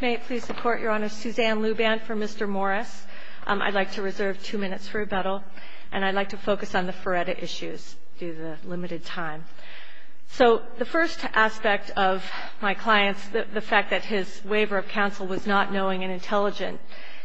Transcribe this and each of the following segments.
May it please the Court, Your Honor. Suzanne Luban for Mr. Morris. I'd like to reserve two minutes for rebuttal, and I'd like to focus on the Feretta issues due to the limited time. So the first aspect of my client's – the fact that his waiver of counsel was not knowing and intelligent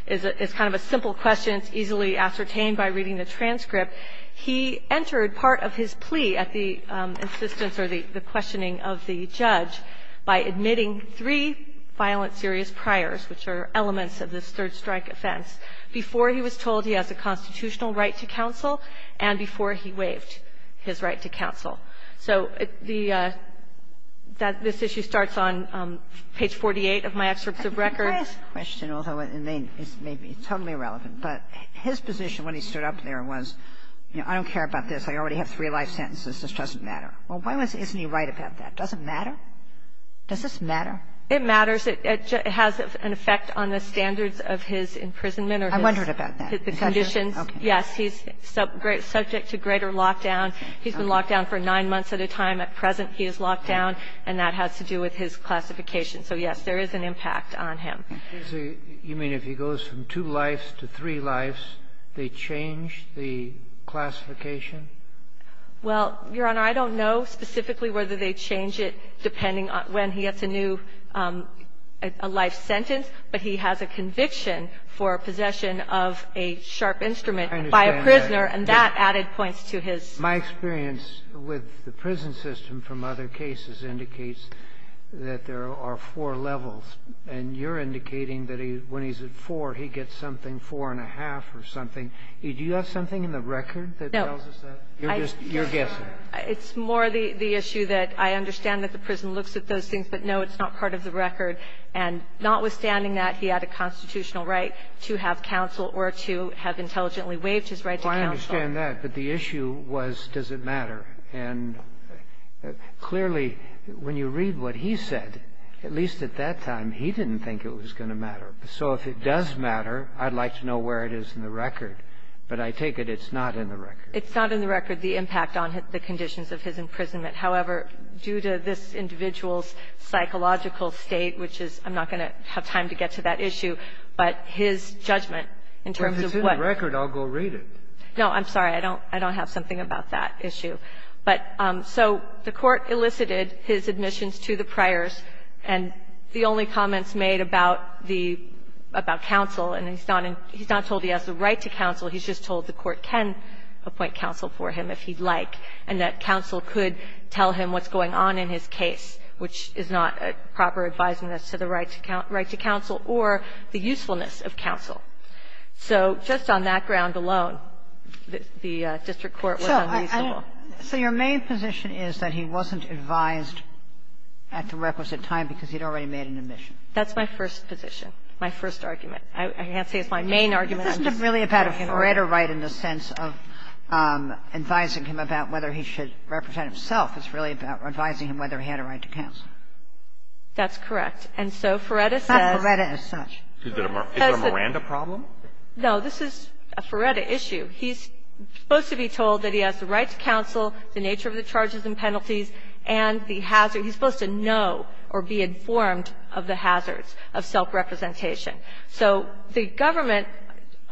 is kind of a simple question. It's easily ascertained by reading the transcript. He entered part of his plea at the insistence or the questioning of the judge by admitting three violent, serious priors, which are elements of this third-strike offense, before he was told he has a constitutional right to counsel and before he waived his right to counsel. So the – this issue starts on page 48 of my excerpt of records. I think the first question, although it may be totally irrelevant, but his position when he stood up there was, you know, I don't care about this. I already have three life sentences. This doesn't matter. Well, why isn't he right about that? Does it matter? Does this matter? It matters. It has an effect on the standards of his imprisonment or his – I wondered about that. The conditions – yes, he's subject to greater lockdown. He's been locked down for nine months at a time. At present, he is locked down, and that has to do with his classification. So, yes, there is an impact on him. You mean if he goes from two lives to three lives, they change the classification Well, Your Honor, I don't know specifically whether they change it depending on when he gets a new – a life sentence, but he has a conviction for possession of a sharp instrument by a prisoner, and that added points to his – I understand that. My experience with the prison system from other cases indicates that there are four levels, and you're indicating that when he's at four, he gets something, four-and-a-half or something. Do you have something in the record that tells us that? You're just – you're guessing. It's more the issue that I understand that the prison looks at those things, but no, it's not part of the record. And notwithstanding that, he had a constitutional right to have counsel or to have intelligently waived his right to counsel. Well, I understand that, but the issue was does it matter. And clearly, when you read what he said, at least at that time, he didn't think it was going to matter. So if it does matter, I'd like to know where it is in the record. But I take it it's not in the record. It's not in the record, the impact on the conditions of his imprisonment. However, due to this individual's psychological state, which is – I'm not going to have time to get to that issue, but his judgment in terms of what – Well, if it's in the record, I'll go read it. No, I'm sorry. I don't – I don't have something about that issue. But – so the Court elicited his admissions to the priors, and the only comments made about the – about counsel, and he's not in – he's not told he has the right to counsel. He's just told the Court can appoint counsel for him if he'd like, and that counsel could tell him what's going on in his case, which is not a proper advisement as to the right to counsel or the usefulness of counsel. So just on that ground alone, the district court was unreasonable. So I – so your main position is that he wasn't advised at the requisite time because he'd already made an admission. That's my first position, my first argument. I can't say it's my main argument. It's not really about a Ferretta right in the sense of advising him about whether he should represent himself. It's really about advising him whether he had a right to counsel. That's correct. And so Ferretta says – Not Ferretta as such. Is there a Miranda problem? No. This is a Ferretta issue. He's supposed to be told that he has the right to counsel, the nature of the charges and penalties, and the hazard – he's supposed to know or be informed of the hazards of self-representation. So the government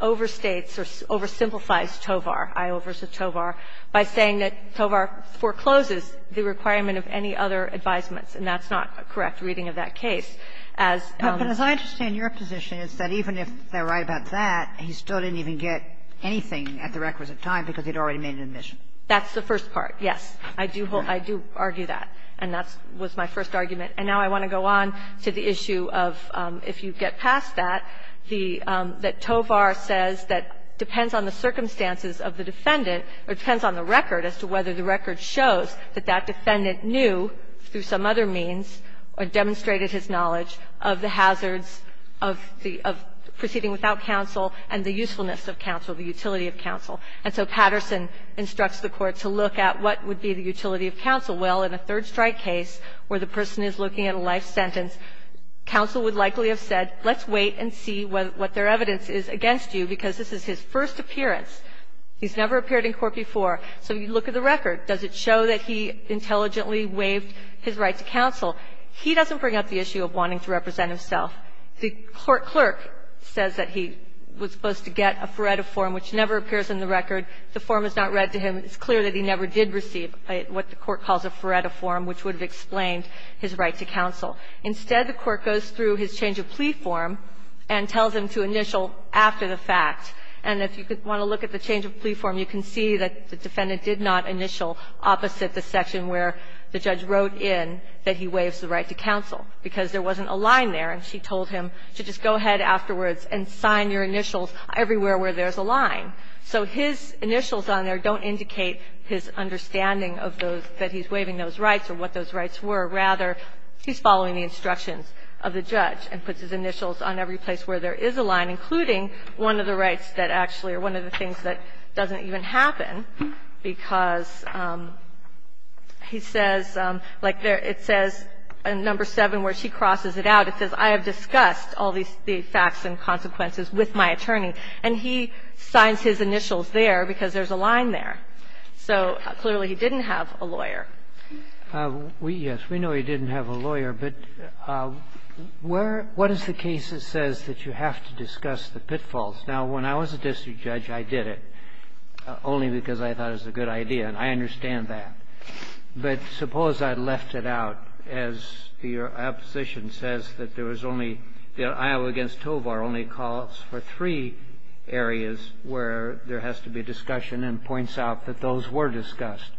overstates or oversimplifies Tovar, I-over-to-Tovar, by saying that Tovar forecloses the requirement of any other advisements, and that's not a correct reading of that case. As – But as I understand your position, it's that even if they're right about that, he still didn't even get anything at the requisite time because he'd already made an admission. That's the first part, yes. I do hold – I do argue that, and that was my first argument. And now I want to go on to the issue of, if you get past that, the – that Tovar says that depends on the circumstances of the defendant, or depends on the record, as to whether the record shows that that defendant knew through some other means or demonstrated his knowledge of the hazards of the – of proceeding without counsel and the usefulness of counsel, the utility of counsel. And so Patterson instructs the Court to look at what would be the utility of counsel. Well, in a third-strike case, where the person is looking at a life sentence, counsel would likely have said, let's wait and see what their evidence is against you, because this is his first appearance. He's never appeared in court before. So you look at the record. Does it show that he intelligently waived his right to counsel? He doesn't bring up the issue of wanting to represent himself. The court clerk says that he was supposed to get a Feretta form, which never appears in the record. The form is not read to him. It's clear that he never did receive what the court calls a Feretta form, which would have explained his right to counsel. Instead, the court goes through his change of plea form and tells him to initial after the fact. And if you want to look at the change of plea form, you can see that the defendant did not initial opposite the section where the judge wrote in that he waives the right to counsel, because there wasn't a line there. And she told him to just go ahead afterwards and sign your initials everywhere where there's a line. So his initials on there don't indicate his understanding of those that he's waiving those rights or what those rights were. Rather, he's following the instructions of the judge and puts his initials on every place where there is a line, including one of the rights that actually or one of the things that doesn't even happen, because he says, like, it says in Number 7 where she crosses it out, it says, I have discussed all these facts and consequences with my attorney. And he signs his initials there because there's a line there. So clearly, he didn't have a lawyer. We, yes, we know he didn't have a lawyer. But where – what is the case that says that you have to discuss the pitfalls? Now, when I was a district judge, I did it only because I thought it was a good idea, and I understand that. But suppose I left it out, as your opposition says, that there was only – Iowa v. Tovar only calls for three areas where there has to be discussion and points out that those were discussed.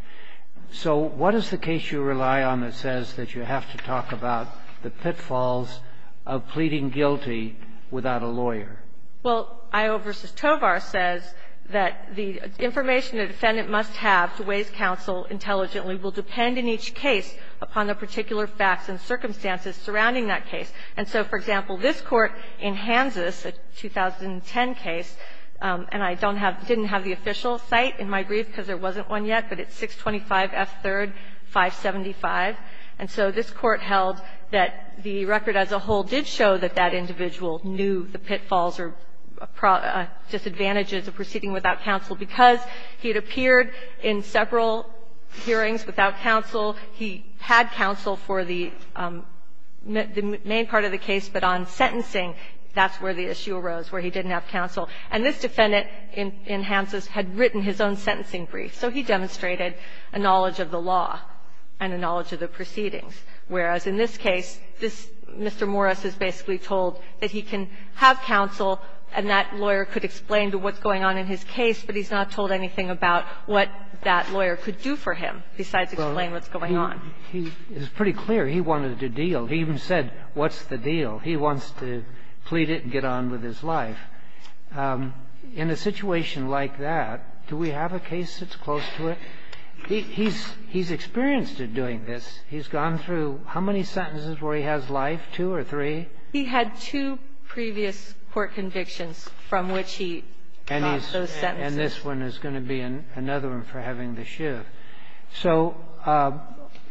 So what is the case you rely on that says that you have to talk about the pitfalls of pleading guilty without a lawyer? Well, Iowa v. Tovar says that the information a defendant must have to waive counsel intelligently will depend in each case upon the particular facts and circumstances surrounding that case. And so, for example, this Court in Hans's, a 2010 case, and I don't have – didn't have the official site in my brief because there wasn't one yet, but it's 625 F. 3rd, 575. And so this Court held that the record as a whole did show that that individual knew the pitfalls or disadvantages of proceeding without counsel because he had appeared in several hearings without counsel. He had counsel for the main part of the case, but on sentencing, that's where the issue arose, where he didn't have counsel. And this defendant in Hans's had written his own sentencing brief. So he demonstrated a knowledge of the law and a knowledge of the proceedings. Whereas in this case, this – Mr. Morris is basically told that he can have counsel and that lawyer could explain to what's going on in his case, but he's not told anything about what that lawyer could do for him besides explain what's going on. He is pretty clear he wanted to deal. He even said, what's the deal? He wants to plead it and get on with his life. In a situation like that, do we have a case that's close to it? He's experienced at doing this. He's gone through how many sentences where he has life, two or three? He had two previous court convictions from which he got those sentences. And this one is going to be another one for having the shiv. So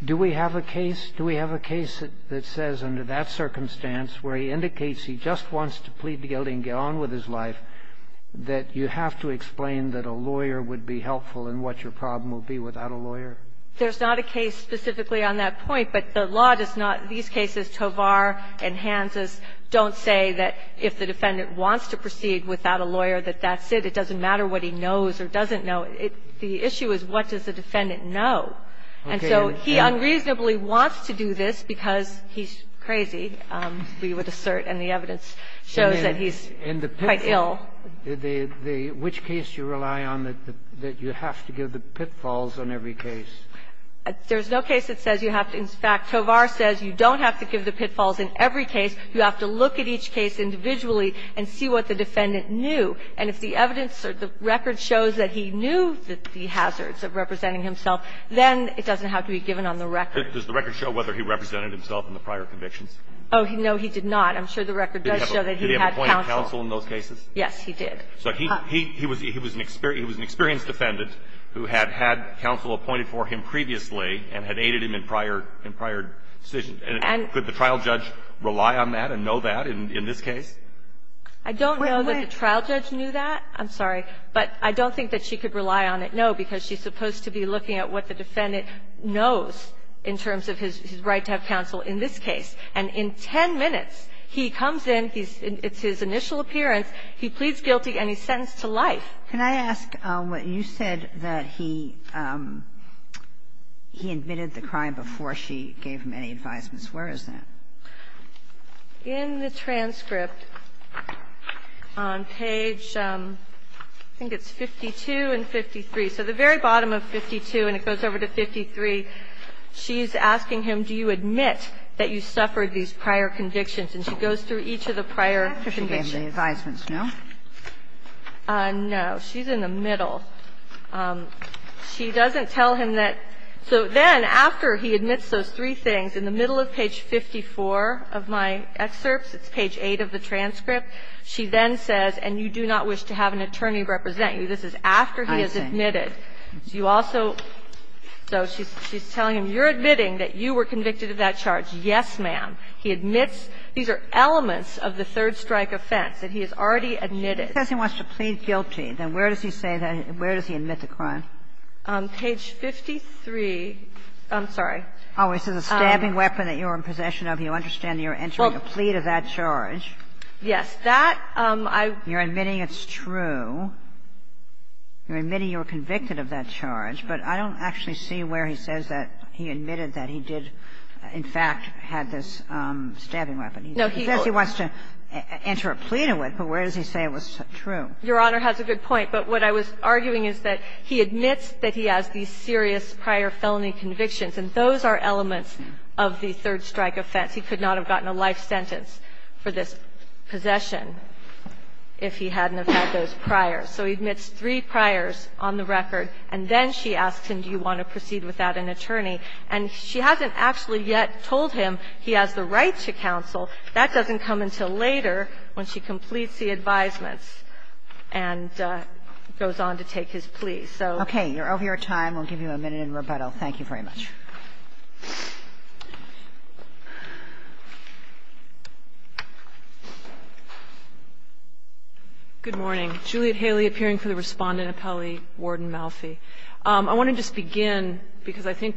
do we have a case? Do we have a case that says under that circumstance where he indicates he just wants to plead the guilty and get on with his life, that you have to explain that a lawyer would be helpful in what your problem will be without a lawyer? There's not a case specifically on that point, but the law does not – these cases, Tovar and Hans's, don't say that if the defendant wants to proceed without a lawyer, that that's it. It doesn't matter what he knows or doesn't know. The issue is, what does the defendant know? And so he unreasonably wants to do this because he's crazy, we would assert, and the evidence shows that he's quite ill. And the pitfall, the – which case do you rely on that you have to give the pitfalls on every case? There's no case that says you have to. In fact, Tovar says you don't have to give the pitfalls in every case. You have to look at each case individually and see what the defendant knew. And if the evidence or the record shows that he knew the hazards of representing himself, then it doesn't have to be given on the record. Does the record show whether he represented himself in the prior convictions? Oh, no, he did not. I'm sure the record does show that he had counsel. Did he have appointed counsel in those cases? Yes, he did. So he was an experienced defendant who had had counsel appointed for him previously and had aided him in prior decisions. And could the trial judge rely on that and know that in this case? I don't know that the trial judge knew that. I'm sorry. But I don't think that she could rely on it, no, because she's supposed to be looking at what the defendant knows in terms of his right to have counsel in this case. And in 10 minutes, he comes in, he's – it's his initial appearance, he pleads guilty, and he's sentenced to life. Can I ask what you said that he admitted the crime before she gave him any advisements? Where is that? In the transcript on page, I think it's 52 and 53. So the very bottom of 52, and it goes over to 53, she's asking him, do you admit that you suffered these prior convictions? And she goes through each of the prior convictions. After she gave him the advisements, no? No. She's in the middle. She doesn't tell him that. So then after he admits those three things, in the middle of page 54 of my excerpts, it's page 8 of the transcript, she then says, and you do not wish to have an attorney represent you. This is after he has admitted. So you also – so she's telling him, you're admitting that you were convicted of that charge. Yes, ma'am. He admits these are elements of the third strike offense that he has already admitted. If he says he wants to plead guilty, then where does he say that – where does he admit the crime? Page 53. I'm sorry. Oh, this is a stabbing weapon that you're in possession of. You understand you're entering a plea to that charge. Yes. That, I – You're admitting it's true. You're admitting you were convicted of that charge. But I don't actually see where he says that he admitted that he did, in fact, had this stabbing weapon. No, he – He says he wants to enter a plea to it, but where does he say it was true? Your Honor has a good point. But what I was arguing is that he admits that he has these serious prior felony convictions, and those are elements of the third strike offense. He could not have gotten a life sentence for this possession if he hadn't have had those priors. So he admits three priors on the record, and then she asks him, do you want to proceed without an attorney? And she hasn't actually yet told him he has the right to counsel. That doesn't come until later when she completes the advisements. And goes on to take his plea. So – Okay. You're over your time. We'll give you a minute in rebuttal. Thank you very much. Good morning. Juliet Haley, appearing for the Respondent Appellee, Warden Malfi. I want to just begin, because I think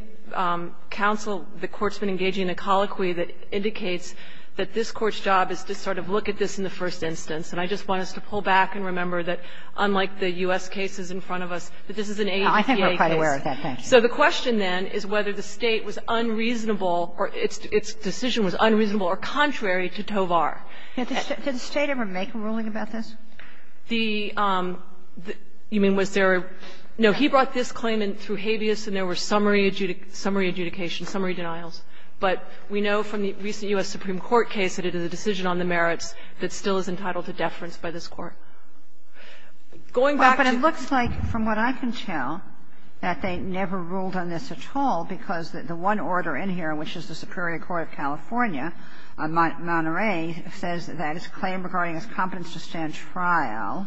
counsel, the Court's been engaging in a colloquy that indicates that this Court's job is to sort of look at this in the first instance. And I just want us to pull back and remember that, unlike the U.S. cases in front of us, that this is an APA case. I think we're quite aware of that, thank you. So the question then is whether the State was unreasonable or its decision was unreasonable or contrary to Tovar. Did the State ever make a ruling about this? The – you mean, was there – no, he brought this claim in through habeas, and there were summary adjudication, summary denials. But we know from the recent U.S. Supreme Court case that it is a decision on the merits that still is entitled to deference by this Court. Going back to the – But it looks like, from what I can tell, that they never ruled on this at all, because the one order in here, which is the Superior Court of California, Monterey, says that its claim regarding its competence to stand trial,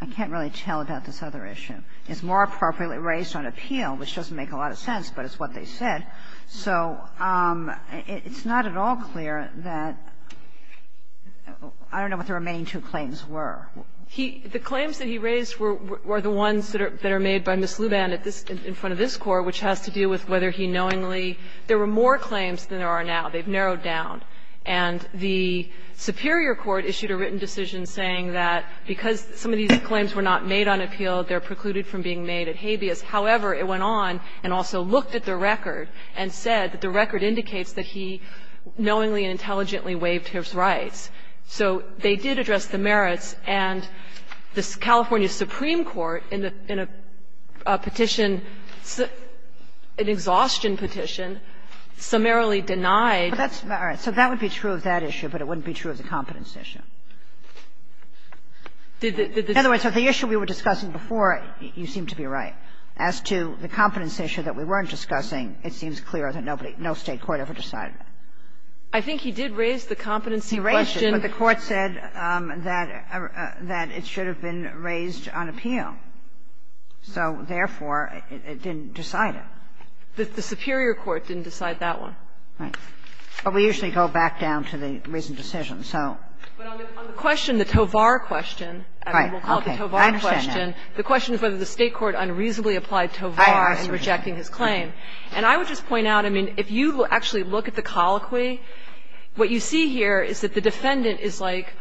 I can't really tell about this other issue, is more appropriately raised on appeal, which doesn't make a lot of sense, but it's what they said. So it's not at all clear that – I don't know what the remaining two claims were. He – the claims that he raised were the ones that are made by Ms. Luban at this – in front of this Court, which has to do with whether he knowingly – there were more claims than there are now. They've narrowed down. And the superior court issued a written decision saying that because some of these claims were not made on appeal, they're precluded from being made at habeas. However, it went on and also looked at the record and said that the record indicates that he knowingly and intelligently waived his rights. So they did address the merits, and the California supreme court in a petition, an exhaustion petition, summarily denied the merits. Kagan. So that would be true of that issue, but it wouldn't be true of the competence issue. In other words, the issue we were discussing before, you seem to be right. As to the competence issue that we weren't discussing, it seems clear that nobody – no State court ever decided it. I think he did raise the competency question. He raised it, but the Court said that it should have been raised on appeal. So, therefore, it didn't decide it. The superior court didn't decide that one. Right. But we usually go back down to the written decision, so. But on the question, the Tovar question, we'll call it the Tovar question, the question is whether the State court unreasonably applied Tovar in rejecting his claim. And I would just point out, I mean, if you actually look at the colloquy, what you see here is that the defendant is, like,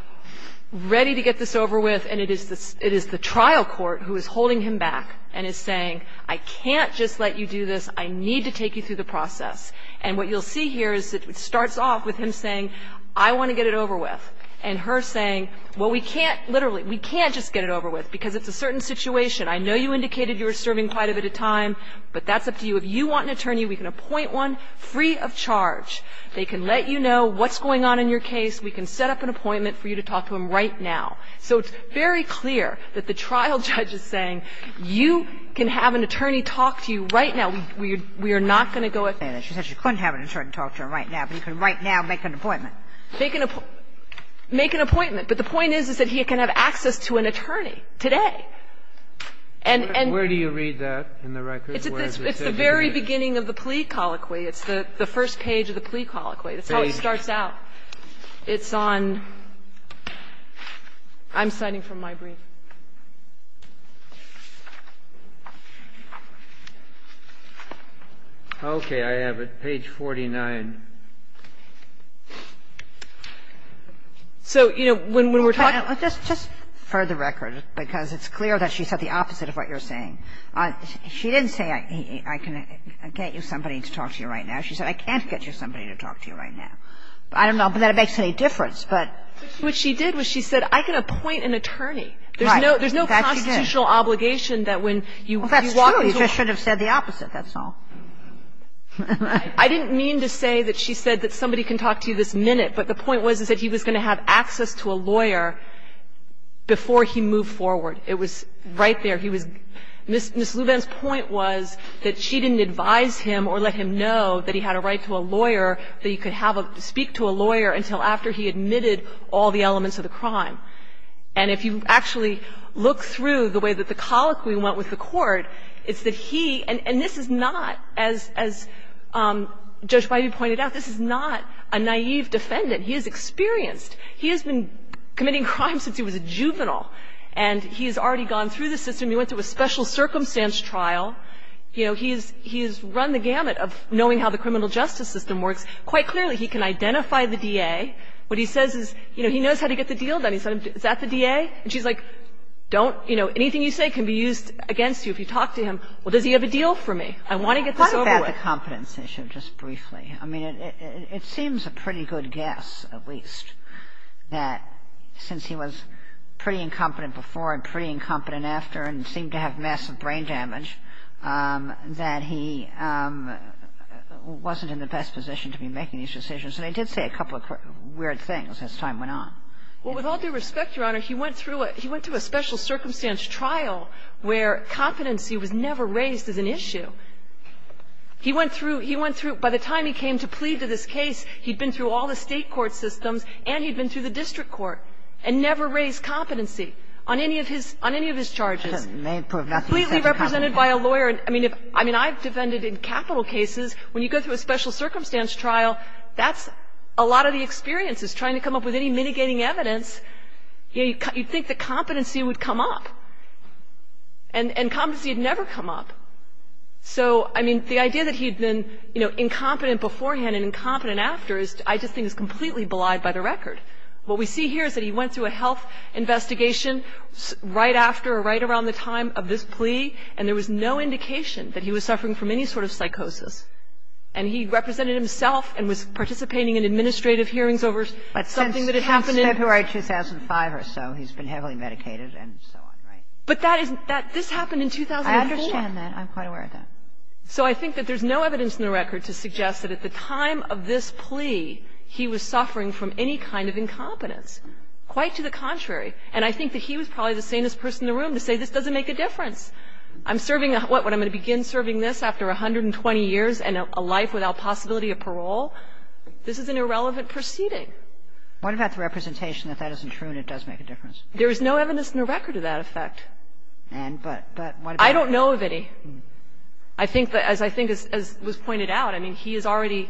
ready to get this over with, and it is the trial court who is holding him back and is saying, I can't just let you do this. I need to take you through the process. And what you'll see here is that it starts off with him saying, I want to get it over with, and her saying, well, we can't, literally, we can't just get it over with, because it's a certain situation. I know you indicated you were serving quite a bit of time, but that's up to you. If you want an attorney, we can appoint one free of charge. They can let you know what's going on in your case. We can set up an appointment for you to talk to him right now. So it's very clear that the trial judge is saying, you can have an attorney talk to you right now. We are not going to go and say that she couldn't have an attorney talk to him right now, but he can right now make an appointment. They can make an appointment, but the point is, is that he can have access to an attorney today. And and Where do you read that in the record? It's at the very beginning of the plea colloquy. It's the first page of the plea colloquy. That's how he starts out. It's on – I'm citing from my brief. Okay. I have it. Page 49. So, you know, when we're talking – I read the record, because it's clear that she said the opposite of what you're saying. She didn't say, I can get you somebody to talk to you right now. She said, I can't get you somebody to talk to you right now. I don't know that it makes any difference, but – What she did was she said, I can appoint an attorney. There's no constitutional obligation that when you walk into a – Well, that's true. You just should have said the opposite, that's all. I didn't mean to say that she said that somebody can talk to you this minute, but the point was, is that he was going to have access to a lawyer before he moved forward. It was right there. He was – Ms. Lubin's point was that she didn't advise him or let him know that he had a right to a lawyer, that he could have a – speak to a lawyer until after he admitted all the elements of the crime. And if you actually look through the way that the colloquy went with the court, it's that he – and this is not, as Judge Bybee pointed out, this is not a naive defendant. He is experienced. He has been committing crimes since he was a juvenile, and he's already gone through the system. He went through a special circumstance trial. You know, he's run the gamut of knowing how the criminal justice system works. Quite clearly, he can identify the DA. What he says is, you know, he knows how to get the deal done. He said, is that the DA? And she's like, don't – you know, anything you say can be used against you. If you talk to him, well, does he have a deal for me? I want to get this over with. Why is that the competence issue, just briefly? I mean, it seems a pretty good guess, at least, that since he was pretty incompetent before and pretty incompetent after and seemed to have massive brain damage, that he wasn't in the best position to be making these decisions. And he did say a couple of weird things as time went on. Well, with all due respect, Your Honor, he went through a – he went through a special circumstance trial where competency was never raised as an issue. He went through – he went through – by the time he came to plead to this case, he'd been through all the State court systems and he'd been through the district court and never raised competency on any of his – on any of his charges. Completely represented by a lawyer. I mean, if – I mean, I've defended in capital cases, when you go through a special circumstance trial, that's a lot of the experience is trying to come up with any mitigating evidence. You'd think that competency would come up, and competency had never come up. So, I mean, the idea that he'd been, you know, incompetent beforehand and incompetent after is – I just think is completely belied by the record. What we see here is that he went through a health investigation right after or right around the time of this plea, and there was no indication that he was suffering from any sort of psychosis. And he represented himself and was participating in administrative hearings over something that had happened in – But since February 2005 or so, he's been heavily medicated and so on, right? But that is – this happened in 2004. I understand that. I'm quite aware of that. So I think that there's no evidence in the record to suggest that at the time of this plea, he was suffering from any kind of incompetence. Quite to the contrary. And I think that he was probably the sanest person in the room to say, this doesn't make a difference. I'm serving – what? What, I'm going to begin serving this after 120 years and a life without possibility of parole? This is an irrelevant proceeding. What about the representation that that isn't true and it does make a difference? There is no evidence in the record of that effect. And – but what about – I don't know of any. I think that – as I think – as was pointed out, I mean, he is already,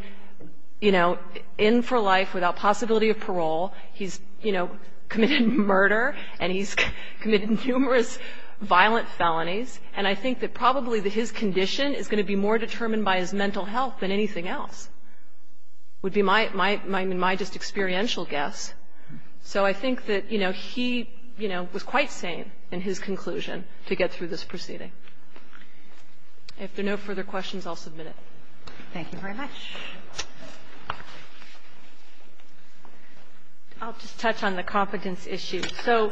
you know, in for life without possibility of parole. He's, you know, committed murder and he's committed numerous violent felonies. And I think that probably that his condition is going to be more determined by his mental health than anything else would be my just experiential guess. So I think that, you know, he, you know, was quite sane in his conclusion to get through this proceeding. If there are no further questions, I'll submit it. Thank you very much. I'll just touch on the competence issue. So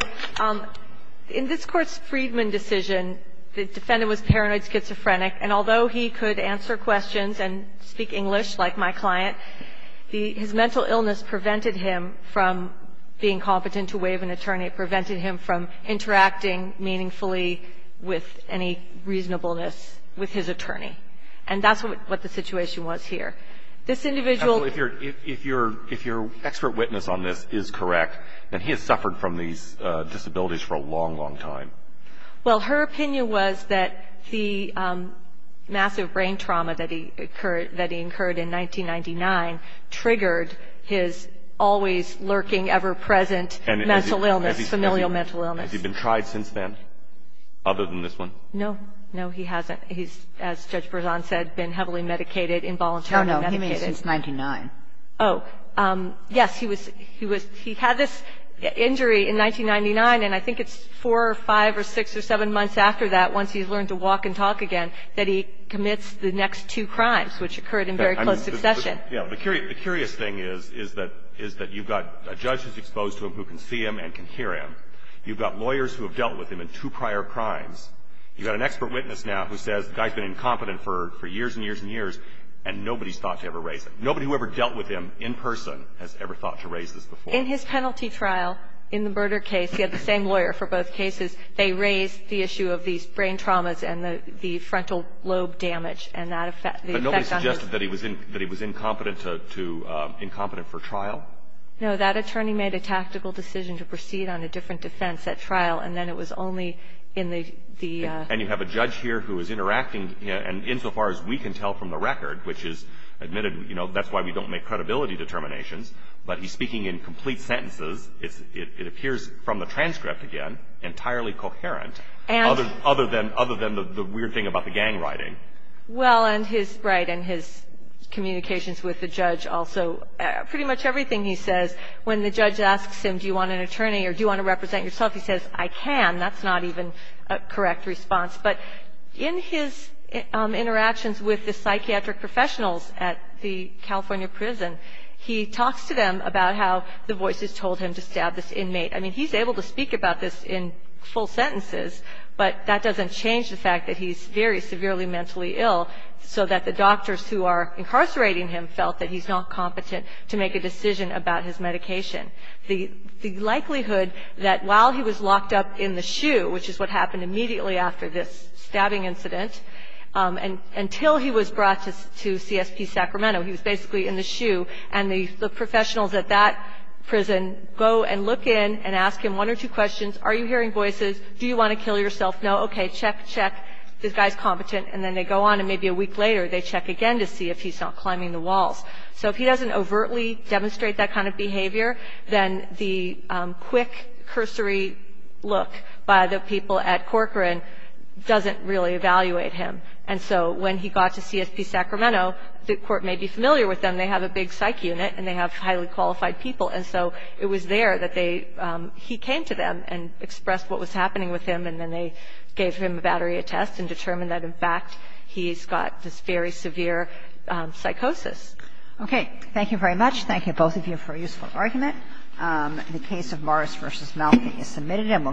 in this Court's Friedman decision, the defendant was paranoid schizophrenic. And although he could answer questions and speak English like my client, his mental illness prevented him from being competent to waive an attorney, prevented him from interacting meaningfully with any reasonableness with his attorney. And that's what the situation was here. This individual – If your – if your – if your expert witness on this is correct, then he has suffered from these disabilities for a long, long time. Well, her opinion was that the massive brain trauma that he incurred in 1999 triggered his always lurking, ever-present mental illness, familial mental illness. Has he been tried since then, other than this one? No. No, he hasn't. He's, as Judge Berzon said, been heavily medicated, involuntarily medicated. No, no, he means since 1999. Oh, yes, he was – he had this injury in 1999, and I think it's four or five or six or seven months after that, once he's learned to walk and talk again, that he commits the next two crimes, which occurred in very close succession. Yeah. The curious thing is, is that – is that you've got a judge who's exposed to him who can see him and can hear him. You've got lawyers who have dealt with him in two prior crimes. You've got an expert witness now who says the guy's been incompetent for years and years and years, and nobody's thought to ever raise him. Nobody who ever dealt with him in person has ever thought to raise this before. In his penalty trial, in the murder case, he had the same lawyer for both cases. They raised the issue of these brain traumas and the – the frontal lobe damage and that effect – the effect on his – Incompetent to – incompetent for trial? No. That attorney made a tactical decision to proceed on a different defense at trial, and then it was only in the – the – And you have a judge here who is interacting, and insofar as we can tell from the record, which is admitted, you know, that's why we don't make credibility determinations, but he's speaking in complete sentences. It's – it appears from the transcript, again, entirely coherent, other than – other than the weird thing about the gang writing. Well, and his – right, and his communications with the judge also – pretty much everything he says, when the judge asks him, do you want an attorney or do you want to represent yourself, he says, I can. That's not even a correct response. But in his interactions with the psychiatric professionals at the California prison, he talks to them about how the voices told him to stab this inmate. I mean, he's able to speak about this in full sentences, but that doesn't change the fact that he's very severely mentally ill, so that the doctors who are incarcerating him felt that he's not competent to make a decision about his medication. The – the likelihood that while he was locked up in the SHU, which is what happened immediately after this stabbing incident, and – until he was brought to CSP Sacramento, he was basically in the SHU, and the – the professionals at that prison go and look in and ask him one or two questions. Are you hearing voices? Do you want to kill yourself? No? Okay, check, check. This guy's competent. And then they go on, and maybe a week later, they check again to see if he's not climbing the walls. So if he doesn't overtly demonstrate that kind of behavior, then the quick cursory look by the people at Corcoran doesn't really evaluate him. And so when he got to CSP Sacramento, the court may be familiar with them. They have a big psych unit, and they have highly qualified people. And so it was there that they – he came to them and expressed what was – gave him a battery of tests and determined that, in fact, he's got this very severe psychosis. Okay. Thank you very much. Thank you, both of you, for a useful argument. The case of Morris v. Malfi is submitted. And we'll